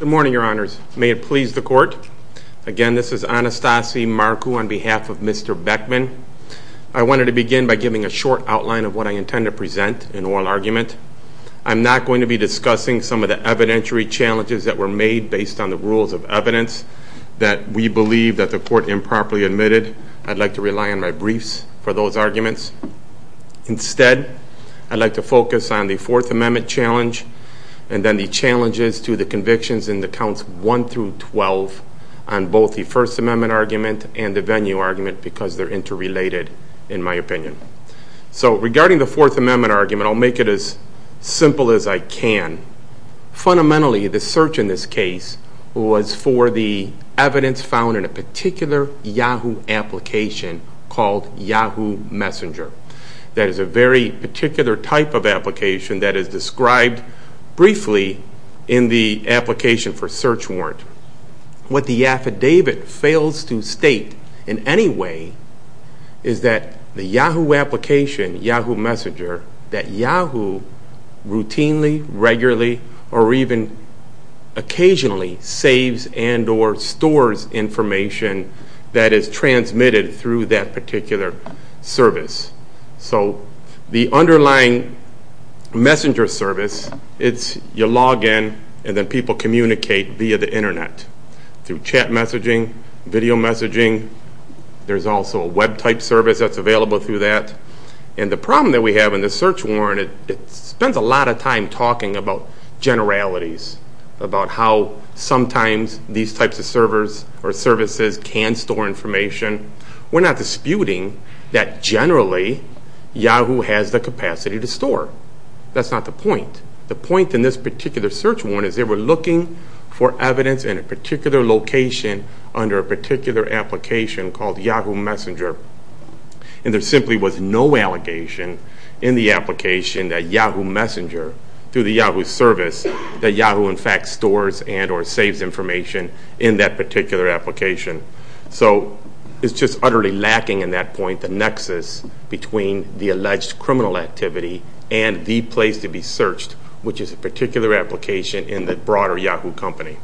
Good morning, your honors. May it please the court. Again, this is Anastasi Marku on behalf of Mr. Beckman. I wanted to begin by giving a short outline of what I intend to present in oral argument. I'm not going to be discussing some of the evidentiary challenges that were made based on the rules of evidence that we believe that the court improperly admitted. I'd like to rely on my briefs for those arguments. Instead, I'd like to focus on the Fourth Amendment challenge and then the challenges to the convictions in the counts 1 through 12 on both the First Amendment argument and the venue argument because they're interrelated in my opinion. Regarding the Fourth Amendment argument, I'll make it as simple as I can. Fundamentally, the search in this case was for the evidence found in a particular Yahoo application called Yahoo Messenger. That is a very particular type of application that is described briefly in the application for search warrant. What the affidavit fails to state in any way is that the Yahoo application, Yahoo Messenger, that Yahoo routinely, regularly, or even occasionally saves and or stores information that is transmitted through that particular service. So the underlying messenger service, it's you log in and then people communicate via the internet through chat messaging, video messaging. There's also a web type service that's available through that. The problem that we have in the search warrant, it spends a lot of time talking about generalities, about how sometimes these types of servers or services can store information. We're not disputing that generally Yahoo has the capacity to store. That's not the point. The point in this particular search warrant is they were looking for evidence in a particular location under a particular application called Yahoo Messenger and there simply was no allegation in the application that Yahoo Messenger, through the Yahoo service, that Yahoo in fact stores and or saves information in that particular application. So it's just utterly lacking in that point the nexus between the alleged criminal activity and the place to be searched, which is a particular application in the broader Yahoo company.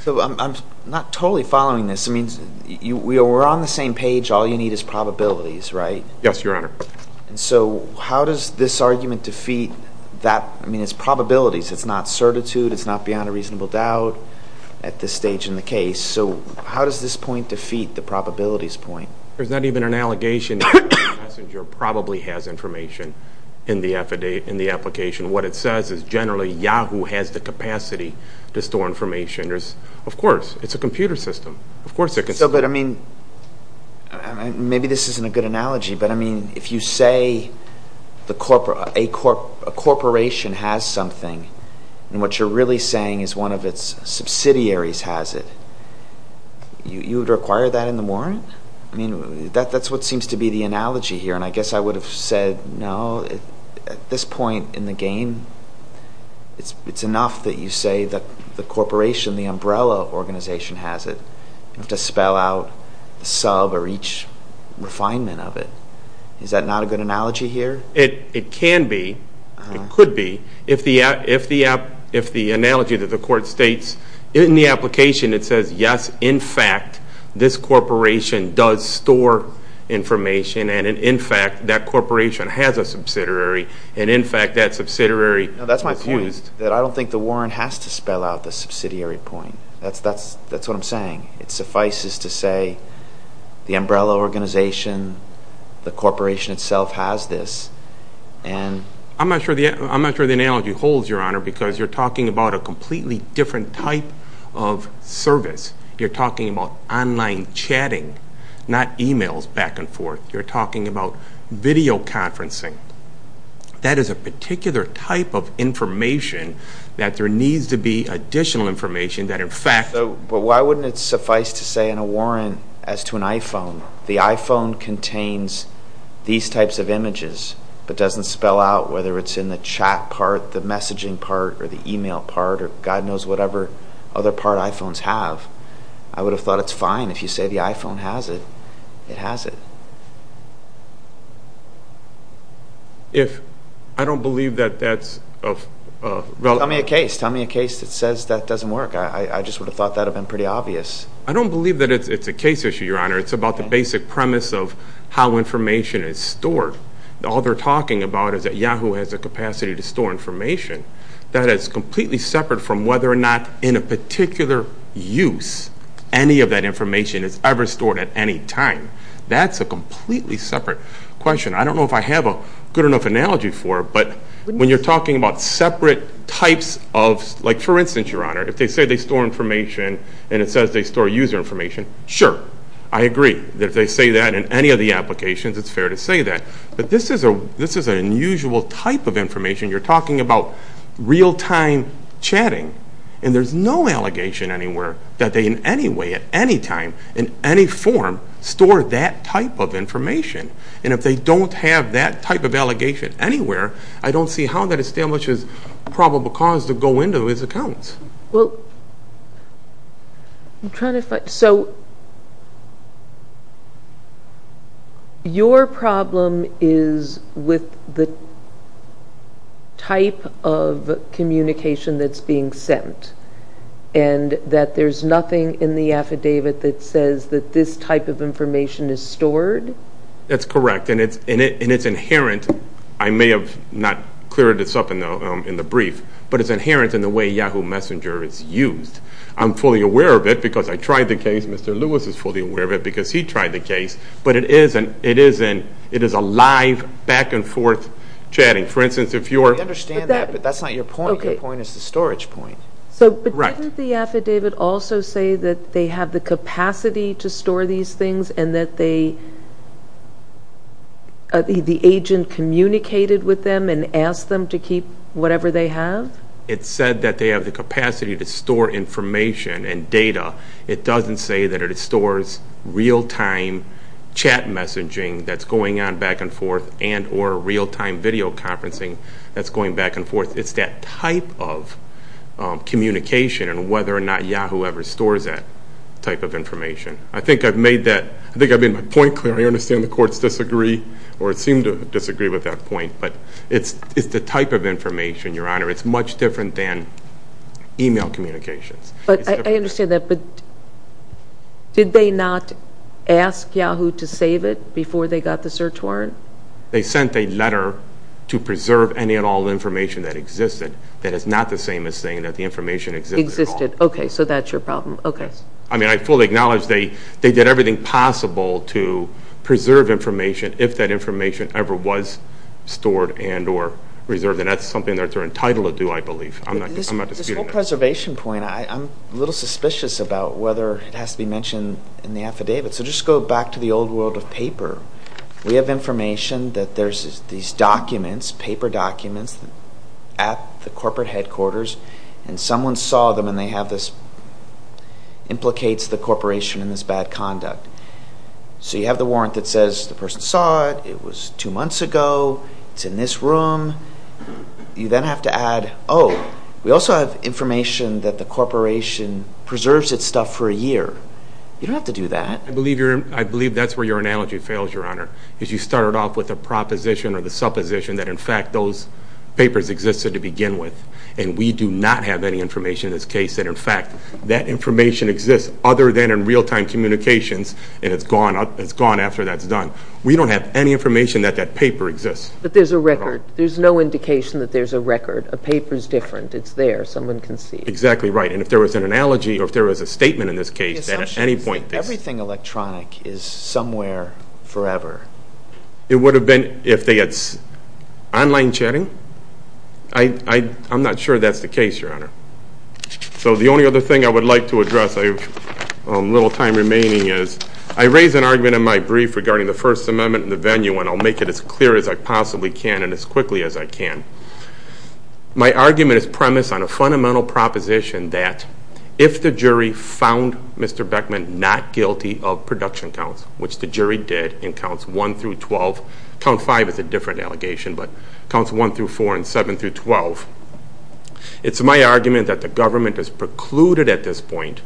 So I'm not totally following this. We're on the same page. All you need is probabilities, right? Yes, Your Honor. So how does this argument defeat that? I mean, it's probabilities. It's not certitude. It's not beyond a reasonable doubt at this stage in the case. So how does this point defeat the probabilities point? There's not even an allegation that Yahoo Messenger probably has information in the application. What it says is generally Yahoo has the capacity to store information. Of course, it's a computer system. But, I mean, maybe this isn't a good analogy, but, I mean, if you say a corporation has something and what you're really saying is one of its subsidiaries has it, you would require that in the warrant? I mean, that's what seems to be the analogy here, and I guess I would have said, no, at this point in the game, it's enough that you say the corporation, the umbrella organization has it. You have to spell out the sub or each refinement of it. Is that not a good analogy here? It can be. It could be. If the analogy that the court states in the application, it says, yes, in fact, this corporation does store information and, in fact, that corporation has a subsidiary and, in fact, that subsidiary was used. I don't think the warrant has to spell out the subsidiary point. That's what I'm saying. It suffices to say the umbrella organization, the corporation itself has this. I'm not sure the analogy holds, Your Honor, because you're talking about a completely different type of service. You're talking about online chatting, not emails back and forth. You're talking about video conferencing. That is a particular type of information that there needs to be additional information that, in fact… But why wouldn't it suffice to say in a warrant as to an iPhone, the iPhone contains these types of images but doesn't spell out whether it's in the chat part, the messaging part, or the email part, or God knows whatever other part iPhones have. I would have thought it's fine if you say the iPhone has it. It has it. I don't believe that that's… Tell me a case. Tell me a case that says that doesn't work. I just would have thought that would have been pretty obvious. I don't believe that it's a case issue, Your Honor. It's about the basic premise of how information is stored. All they're talking about is that Yahoo has the capacity to store information. That is completely separate from whether or not in a particular use any of that information is ever stored at any time. That's a completely separate question. I don't know if I have a good enough analogy for it, but when you're talking about separate types of… But this is an unusual type of information. You're talking about real-time chatting. And there's no allegation anywhere that they in any way at any time in any form store that type of information. And if they don't have that type of allegation anywhere, I don't see how that establishes probable cause to go into these accounts. Your problem is with the type of communication that's being sent and that there's nothing in the affidavit that says that this type of information is stored? That's correct. And it's inherent. I may have not cleared this up in the brief, but it's inherent in the way Yahoo Messenger is used. I'm fully aware of it because I tried the case. Mr. Lewis is fully aware of it because he tried the case. But it is a live back-and-forth chatting. For instance, if you're… I understand that, but that's not your point. Your point is the storage point. But didn't the affidavit also say that they have the capacity to store these things and that the agent communicated with them and asked them to keep whatever they have? It said that they have the capacity to store information and data. It doesn't say that it stores real-time chat messaging that's going on back-and-forth and or real-time video conferencing that's going back-and-forth. It's that type of communication and whether or not Yahoo ever stores that type of information. I think I've made my point clear. I understand the courts disagree or seem to disagree with that point, but it's the type of information, Your Honor. It's much different than email communications. I understand that, but did they not ask Yahoo to save it before they got the search warrant? They sent a letter to preserve any and all information that existed that is not the same as saying that the information existed at all. Existed. Okay. So that's your problem. Okay. Yes. I mean, I fully acknowledge they did everything possible to preserve information if that information ever was stored and or reserved. And that's something that they're entitled to do, I believe. I'm not disputing that. This whole preservation point, I'm a little suspicious about whether it has to be mentioned in the affidavit. So just go back to the old world of paper. We have information that there's these documents, paper documents, at the corporate headquarters, and someone saw them and they have this, implicates the corporation in this bad conduct. So you have the warrant that says the person saw it, it was two months ago, it's in this room. You then have to add, oh, we also have information that the corporation preserves its stuff for a year. You don't have to do that. I believe that's where your analogy fails, Your Honor. Because you started off with a proposition or the supposition that, in fact, those papers existed to begin with. And we do not have any information in this case that, in fact, that information exists other than in real-time communications, and it's gone after that's done. We don't have any information that that paper exists. But there's a record. There's no indication that there's a record. A paper's different. It's there. Someone can see. Exactly right. And if there was an analogy or if there was a statement in this case, the assumption is that everything electronic is somewhere forever. It would have been if they had online chatting. I'm not sure that's the case, Your Honor. So the only other thing I would like to address, I have a little time remaining, is I raised an argument in my brief regarding the First Amendment in the venue, and I'll make it as clear as I possibly can and as quickly as I can. My argument is premised on a fundamental proposition that, if the jury found Mr. Beckman not guilty of production counts, which the jury did in Counts 1 through 12, Count 5 is a different allegation, but Counts 1 through 4 and 7 through 12, it's my argument that the government is precluded at this point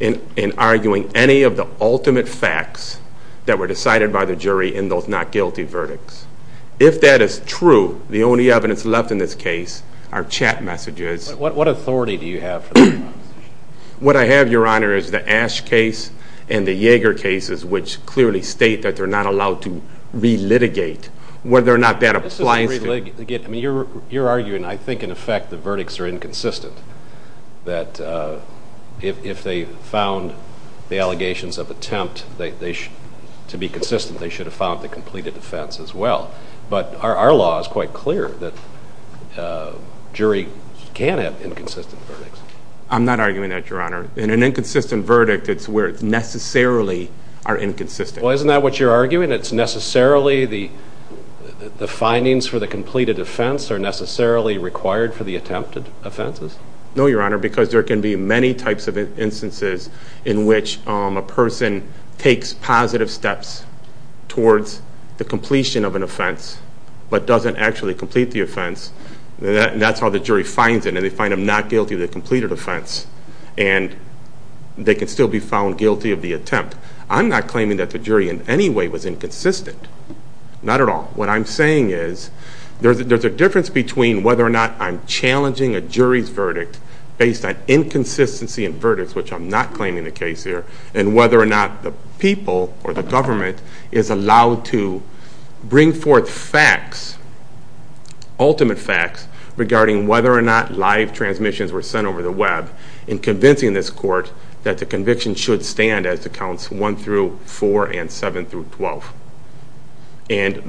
in arguing any of the ultimate facts that were decided by the jury in those not-guilty verdicts. If that is true, the only evidence left in this case are chat messages. What authority do you have for that proposition? What I have, Your Honor, is the Ash case and the Yeager cases, which clearly state that they're not allowed to re-litigate whether or not that applies to— This isn't re-litigating. I mean, you're arguing, I think, in effect, the verdicts are inconsistent, that if they found the allegations of attempt to be consistent, they should have found the completed offense as well. But our law is quite clear that a jury can have inconsistent verdicts. I'm not arguing that, Your Honor. In an inconsistent verdict, it's where it's necessarily are inconsistent. Well, isn't that what you're arguing? It's necessarily the findings for the completed offense are necessarily required for the attempted offenses? No, Your Honor, because there can be many types of instances in which a person takes positive steps towards the completion of an offense but doesn't actually complete the offense. That's how the jury finds it, and they find them not guilty of the completed offense. And they can still be found guilty of the attempt. I'm not claiming that the jury in any way was inconsistent. Not at all. What I'm saying is there's a difference between whether or not I'm challenging a jury's verdict based on inconsistency in verdicts, which I'm not claiming the case here, and whether or not the people or the government is allowed to bring forth facts, ultimate facts, regarding whether or not live transmissions were sent over the web in convincing this court that the conviction should stand as the counts 1 through 4 and 7 through 12. And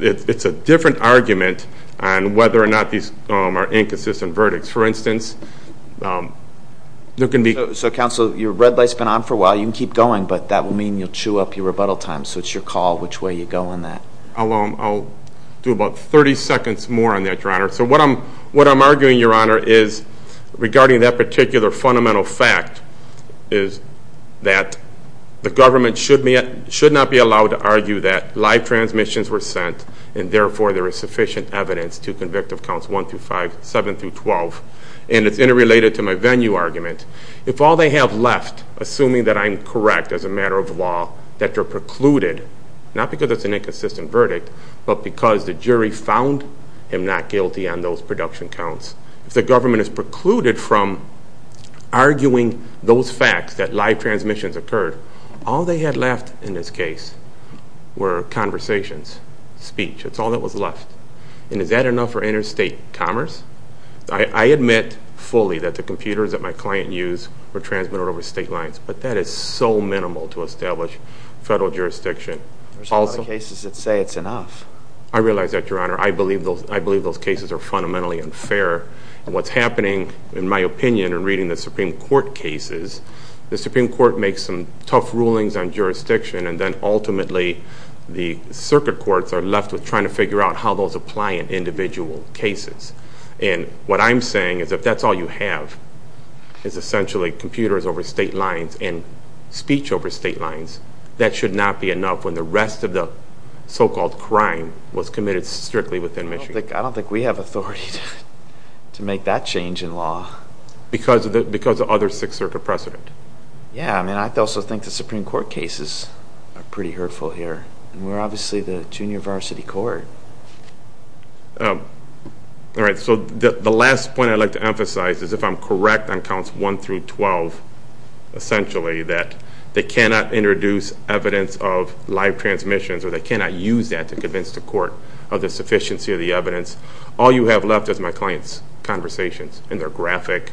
it's a different argument on whether or not these are inconsistent verdicts. For instance, there can be... So, counsel, your red light's been on for a while. You can keep going, but that will mean you'll chew up your rebuttal time. So it's your call which way you go on that. I'll do about 30 seconds more on that, Your Honor. So what I'm arguing, Your Honor, is regarding that particular fundamental fact is that the government should not be allowed to argue that live transmissions were sent and therefore there is sufficient evidence to convict of counts 1 through 5, 7 through 12. And it's interrelated to my venue argument. If all they have left, assuming that I'm correct as a matter of law, that they're precluded, not because it's an inconsistent verdict, but because the jury found him not guilty on those production counts, if the government is precluded from arguing those facts that live transmissions occurred, all they had left in this case were conversations, speech. It's all that was left. And is that enough for interstate commerce? I admit fully that the computers that my client used were transmitted over state lines, but that is so minimal to establish federal jurisdiction. There's a lot of cases that say it's enough. I realize that, Your Honor. I believe those cases are fundamentally unfair. What's happening, in my opinion, in reading the Supreme Court cases, the Supreme Court makes some tough rulings on jurisdiction and then ultimately the circuit courts are left with trying to figure out how those apply in individual cases. And what I'm saying is if that's all you have is essentially computers over state lines and speech over state lines, that should not be enough when the rest of the so-called crime was committed strictly within Michigan. I don't think we have authority to make that change in law. Because of other Sixth Circuit precedent? Yeah. I mean, I also think the Supreme Court cases are pretty hurtful here. And we're obviously the junior varsity court. All right. So the last point I'd like to emphasize is if I'm correct on counts 1 through 12, essentially that they cannot introduce evidence of live transmissions or they cannot use that to convince the court of the sufficiency of the evidence, all you have left is my client's conversations. And they're graphic.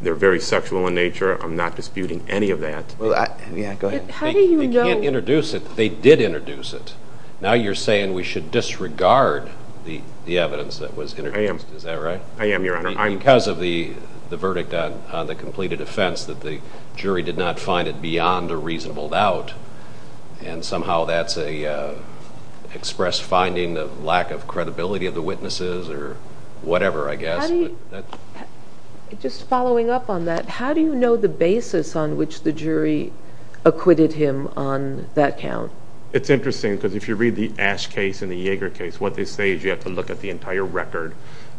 They're very sexual in nature. I'm not disputing any of that. Go ahead. How do you know? They can't introduce it. They did introduce it. Now you're saying we should disregard the evidence that was introduced. I am. Is that right? I am, Your Honor. Because of the verdict on the completed offense that the jury did not find it beyond a reasonable doubt and somehow that's an express finding of lack of credibility of the witnesses or whatever, I guess. Just following up on that, how do you know the basis on which the jury acquitted him on that count? It's interesting because if you read the Ash case and the Yeager case, what they say is you have to look at the entire record,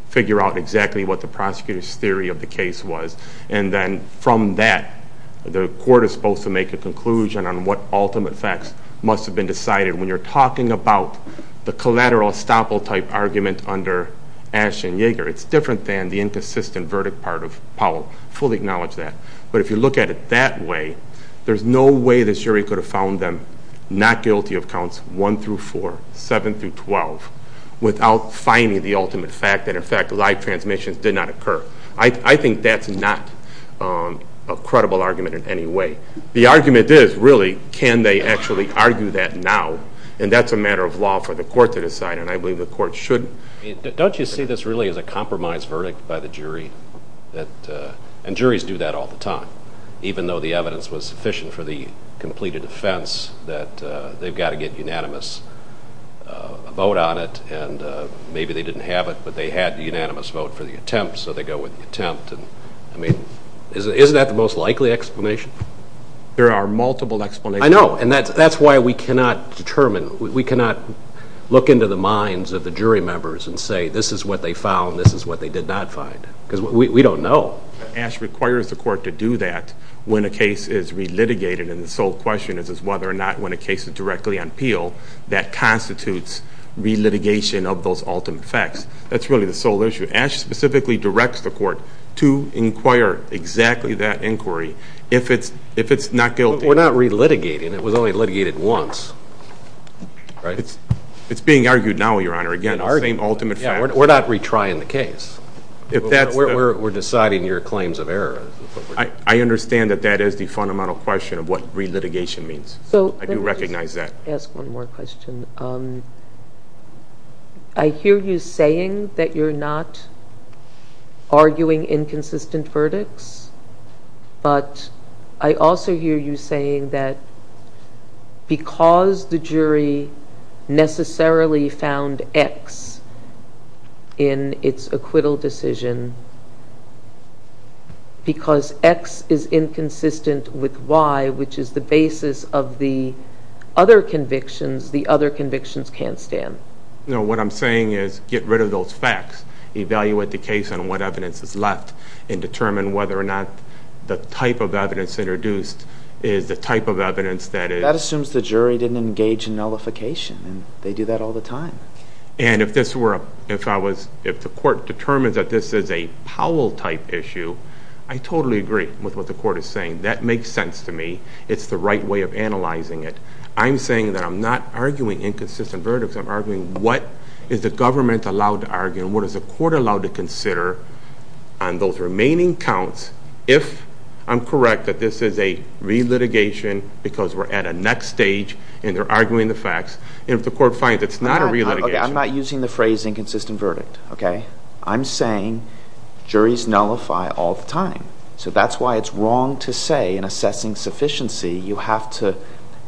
figure out exactly what the prosecutor's theory of the case was, and then from that the court is supposed to make a conclusion on what ultimate facts must have been decided. When you're talking about the collateral estoppel type argument under Ash and Yeager, it's different than the inconsistent verdict part of Powell. Fully acknowledge that. But if you look at it that way, there's no way the jury could have found them not guilty of counts 1 through 4, 7 through 12, without finding the ultimate fact that, in fact, live transmissions did not occur. I think that's not a credible argument in any way. The argument is, really, can they actually argue that now? And that's a matter of law for the court to decide, and I believe the court should. Don't you see this really as a compromise verdict by the jury? And juries do that all the time. Even though the evidence was sufficient for the completed offense, that they've got to get unanimous vote on it, and maybe they didn't have it, but they had the unanimous vote for the attempt, so they go with the attempt. I mean, isn't that the most likely explanation? There are multiple explanations. I know, and that's why we cannot determine, we cannot look into the minds of the jury members and say, this is what they found, this is what they did not find, because we don't know. Ash requires the court to do that when a case is re-litigated, and the sole question is whether or not, when a case is directly on appeal, that constitutes re-litigation of those ultimate facts. That's really the sole issue. Ash specifically directs the court to inquire exactly that inquiry if it's not guilty. We're not re-litigating. It was only litigated once. It's being argued now, Your Honor, again, the same ultimate facts. We're not retrying the case. We're deciding your claims of error. I understand that that is the fundamental question of what re-litigation means. I do recognize that. Let me just ask one more question. I hear you saying that you're not arguing inconsistent verdicts, but I also hear you saying that because the jury necessarily found X in its acquittal decision, because X is inconsistent with Y, which is the basis of the other convictions, the other convictions can't stand. No. What I'm saying is get rid of those facts. Evaluate the case on what evidence is left and determine whether or not the type of evidence introduced is the type of evidence that is... That assumes the jury didn't engage in nullification, and they do that all the time. And if the court determines that this is a Powell-type issue, I totally agree with what the court is saying. That makes sense to me. It's the right way of analyzing it. I'm saying that I'm not arguing inconsistent verdicts. I'm arguing what is the government allowed to argue and what is the court allowed to consider on those remaining counts if I'm correct that this is a re-litigation because we're at a next stage and they're arguing the facts, and if the court finds it's not a re-litigation. I'm not using the phrase inconsistent verdict. I'm saying juries nullify all the time. So that's why it's wrong to say in assessing sufficiency you have to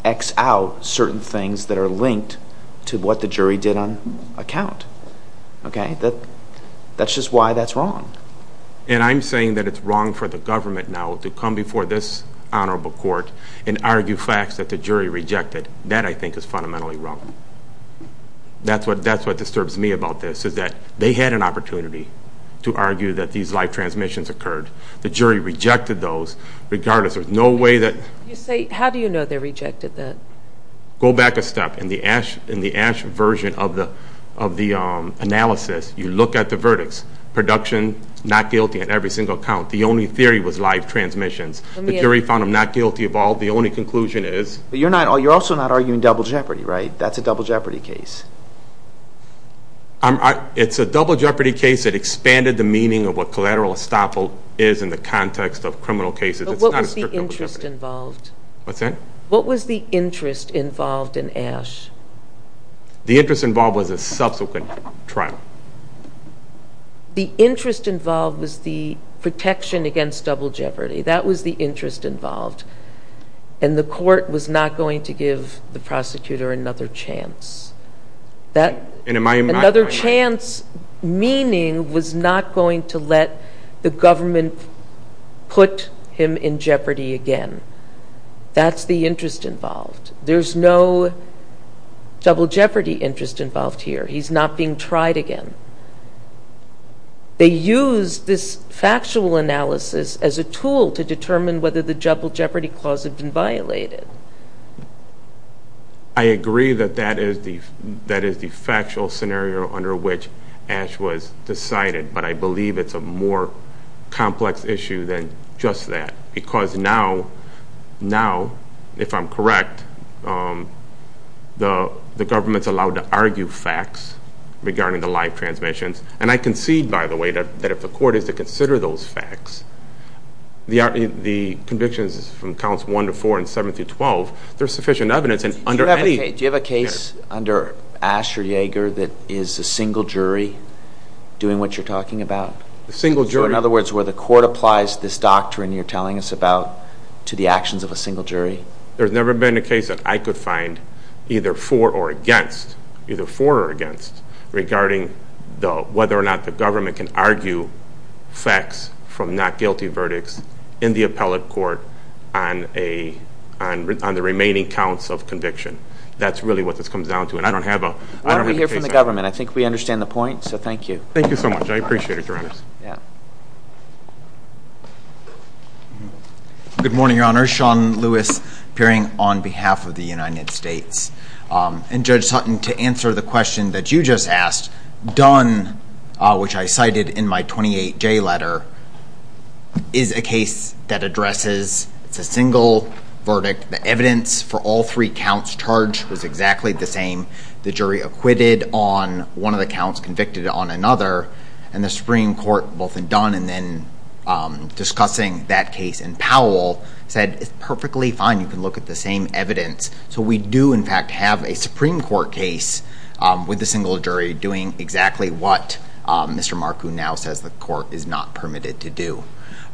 X out certain things that are linked to what the jury did on a count. Okay? That's just why that's wrong. And I'm saying that it's wrong for the government now to come before this honorable court and argue facts that the jury rejected. That, I think, is fundamentally wrong. That's what disturbs me about this, is that they had an opportunity to argue that these live transmissions occurred. The jury rejected those regardless. There's no way that... How do you know they rejected that? Go back a step. In the Ash version of the analysis, you look at the verdicts. Production, not guilty on every single count. The only theory was live transmissions. The jury found them not guilty of all. The only conclusion is... But you're also not arguing double jeopardy, right? That's a double jeopardy case. It's a double jeopardy case that expanded the meaning of what collateral estoppel is in the context of criminal cases. But what was the interest involved? What's that? What was the interest involved in Ash? The interest involved was a subsequent trial. The interest involved was the protection against double jeopardy. That was the interest involved. And the court was not going to give the prosecutor another chance. Another chance meaning was not going to let the government put him in jeopardy again. That's the interest involved. There's no double jeopardy interest involved here. He's not being tried again. They use this factual analysis as a tool to determine whether the double jeopardy clause had been violated. I agree that that is the factual scenario under which Ash was decided, but I believe it's a more complex issue than just that because now, if I'm correct, the government's allowed to argue facts regarding the live transmissions. And I concede, by the way, that if the court is to consider those facts, the convictions from counts 1 to 4 and 7 through 12, there's sufficient evidence. Do you have a case under Ash or Yeager that is a single jury doing what you're talking about? A single jury. So, in other words, where the court applies this doctrine you're telling us about to the actions of a single jury? There's never been a case that I could find either for or against regarding whether or not the government can argue facts from not guilty verdicts in the appellate court on the remaining counts of conviction. That's really what this comes down to, and I don't have a case on that. Why don't we hear from the government? I think we understand the point, so thank you. Thank you so much. I appreciate it, Your Honors. Yeah. Good morning, Your Honors. Sean Lewis appearing on behalf of the United States. And Judge Sutton, to answer the question that you just asked, Dunn, which I cited in my 28J letter, is a case that addresses a single verdict. The evidence for all three counts charged was exactly the same. The jury acquitted on one of the counts, convicted on another, and the Supreme Court, both in Dunn and then discussing that case in Powell, said it's perfectly fine. You can look at the same evidence. So we do, in fact, have a Supreme Court case with a single jury doing exactly what Mr. Marcou now says the court is not permitted to do.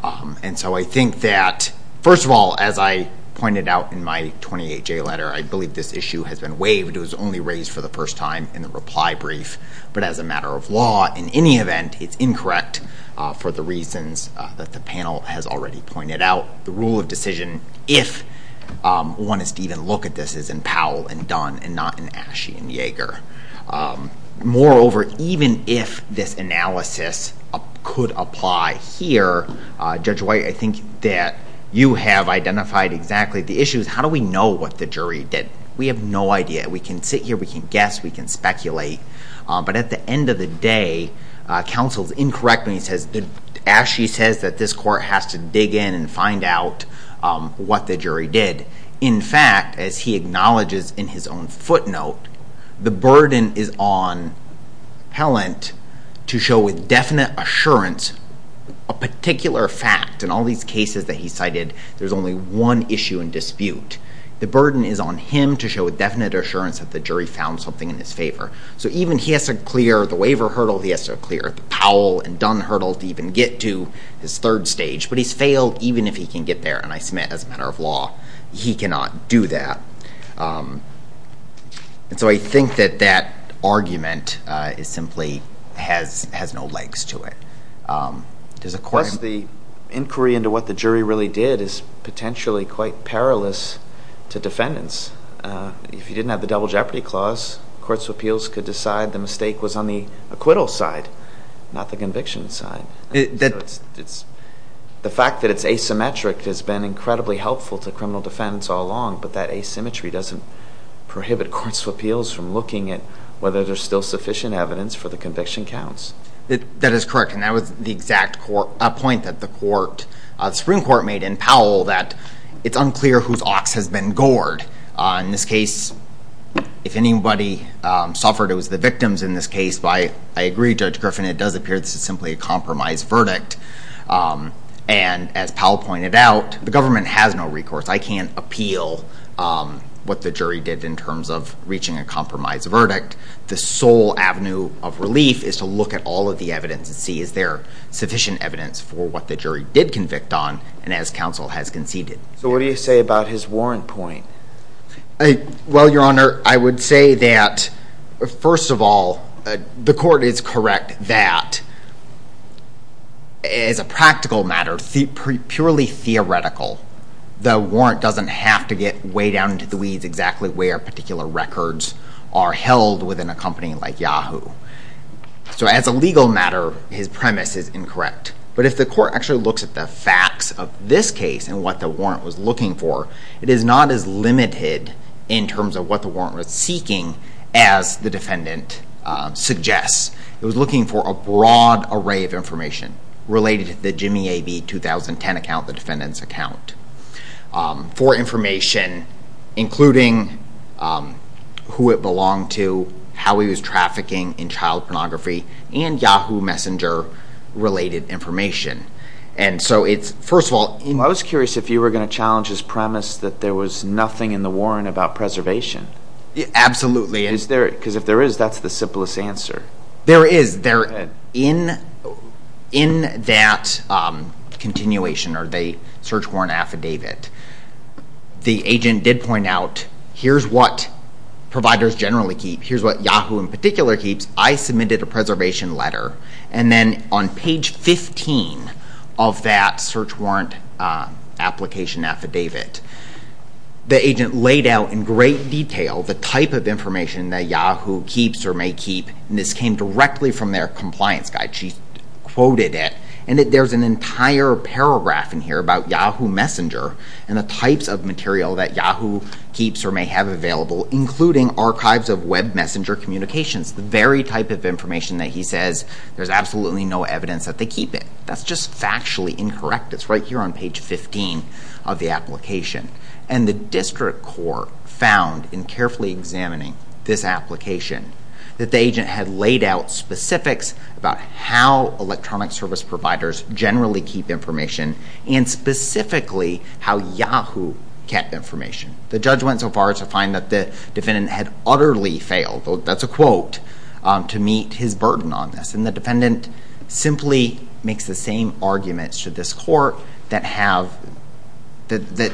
And so I think that, first of all, as I pointed out in my 28J letter, I believe this issue has been waived. It was only raised for the first time in the reply brief. But as a matter of law, in any event, it's incorrect for the reasons that the panel has already pointed out. The rule of decision, if one is to even look at this, is in Powell and Dunn and not in Asche and Yeager. Moreover, even if this analysis could apply here, Judge White, I think that you have identified exactly the issues. How do we know what the jury did? We have no idea. We can sit here. We can guess. We can speculate. But at the end of the day, counsel is incorrect when he says, Asche says that this court has to dig in and find out what the jury did. In fact, as he acknowledges in his own footnote, the burden is on Helland to show with definite assurance a particular fact. In all these cases that he cited, there's only one issue in dispute. The burden is on him to show with definite assurance that the jury found something in his favor. So even he has to clear the waiver hurdle, he has to clear the Powell and Dunn hurdle to even get to his third stage. But he's failed even if he can get there. And I submit, as a matter of law, he cannot do that. So I think that that argument simply has no legs to it. Of course, the inquiry into what the jury really did is potentially quite perilous to defendants. If you didn't have the double jeopardy clause, courts of appeals could decide the mistake was on the acquittal side, not the conviction side. The fact that it's asymmetric has been incredibly helpful to criminal defendants all along, but that asymmetry doesn't prohibit courts of appeals from looking at whether there's still sufficient evidence for the conviction counts. That is correct. And that was the exact point that the Supreme Court made in Powell, that it's unclear whose ox has been gored. In this case, if anybody suffered, it was the victims in this case. I agree, Judge Griffin, it does appear this is simply a compromise verdict. And as Powell pointed out, the government has no recourse. I can't appeal what the jury did in terms of reaching a compromise verdict. The sole avenue of relief is to look at all of the evidence and see is there sufficient evidence for what the jury did convict on. And as counsel has conceded. So what do you say about his warrant point? Well, Your Honor, I would say that first of all, the court is correct that as a practical matter, purely theoretical, the warrant doesn't have to get way down into the weeds exactly where particular records are held within a company like Yahoo. So as a legal matter, his premise is incorrect. But if the court actually looks at the facts of this case and what the warrant was looking for, it is not as limited in terms of what the warrant was seeking as the defendant suggests. It was looking for a broad array of information related to the JimmyAB2010 account, the defendant's account, for information including who it belonged to, how he was trafficking in child pornography, and Yahoo Messenger-related information. And so it's, first of all... I was curious if you were going to challenge his premise that there was nothing in the warrant about preservation. Absolutely. Because if there is, that's the simplest answer. There is. In that continuation or the search warrant affidavit, the agent did point out, here's what providers generally keep. Here's what Yahoo in particular keeps. I submitted a preservation letter. And then on page 15 of that search warrant application affidavit, the agent laid out in great detail the type of information that Yahoo keeps or may keep, and this came directly from their compliance guide. She quoted it. And there's an entire paragraph in here about Yahoo Messenger and the types of material that Yahoo keeps or may have available, including archives of web messenger communications, the very type of information that he says there's absolutely no evidence that they keep it. That's just factually incorrect. It's right here on page 15 of the application. And the district court found, in carefully examining this application, that the agent had laid out specifics about how electronic service providers generally keep information and specifically how Yahoo kept information. The judge went so far as to find that the defendant had utterly failed. That's a quote to meet his burden on this. And the defendant simply makes the same arguments to this court that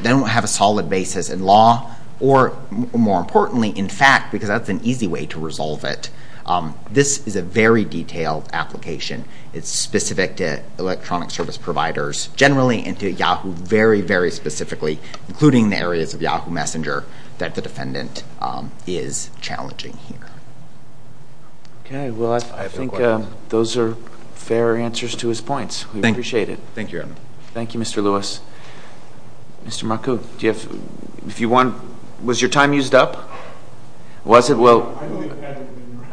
don't have a solid basis in law or, more importantly, in fact, because that's an easy way to resolve it. This is a very detailed application. It's specific to electronic service providers generally and to Yahoo very, very specifically, including the areas of Yahoo Messenger that the defendant is challenging here. Okay. Well, I think those are fair answers to his points. We appreciate it. Thank you, Your Honor. Thank you, Mr. Lewis. Mr. Marcoux, was your time used up? Was it? Well,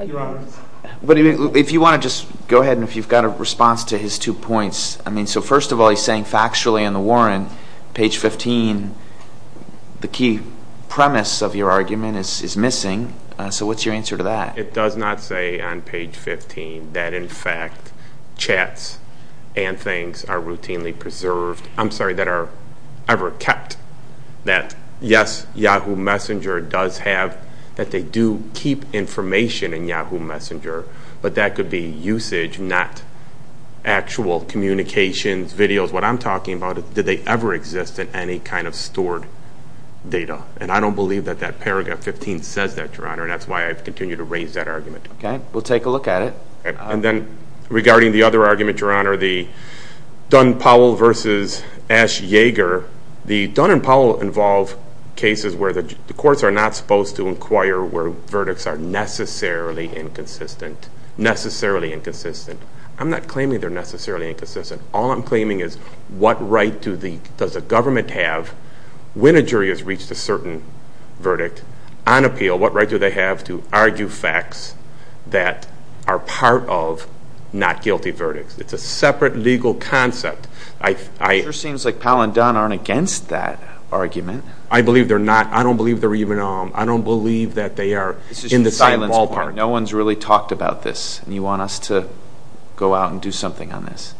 if you want to just go ahead and if you've got a response to his two points. I mean, so first of all, he's saying factually in the warrant, page 15, the key premise of your argument is missing. So what's your answer to that? It does not say on page 15 that, in fact, chats and things are routinely preserved. I'm sorry, that are ever kept. That, yes, Yahoo Messenger does have, that they do keep information in Yahoo Messenger, but that could be usage, not actual communications, videos. What I'm talking about is did they ever exist in any kind of stored data, and I don't believe that that paragraph 15 says that, Your Honor, and that's why I've continued to raise that argument. Okay. We'll take a look at it. And then regarding the other argument, Your Honor, the Dunn-Powell versus Ash-Yeager, the Dunn and Powell involve cases where the courts are not supposed to inquire where verdicts are necessarily inconsistent, necessarily inconsistent. I'm not claiming they're necessarily inconsistent. All I'm claiming is what right does a government have, when a jury has reached a certain verdict, on appeal, what right do they have to argue facts that are part of not guilty verdicts? It's a separate legal concept. It sure seems like Powell and Dunn aren't against that argument. I believe they're not. I don't believe they're even on. I don't believe that they are in the same ballpark. This is just a silence point. No one's really talked about this, and you want us to go out and do something on this.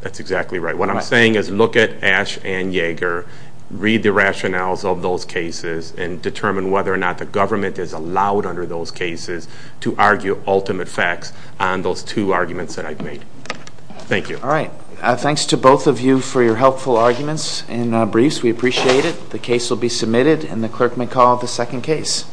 That's exactly right. What I'm saying is look at Ash and Yeager, read the rationales of those cases, and determine whether or not the government is allowed under those cases to argue ultimate facts on those two arguments that I've made. Thank you. All right. Thanks to both of you for your helpful arguments and briefs. We appreciate it. The case will be submitted, and the clerk may call the second case.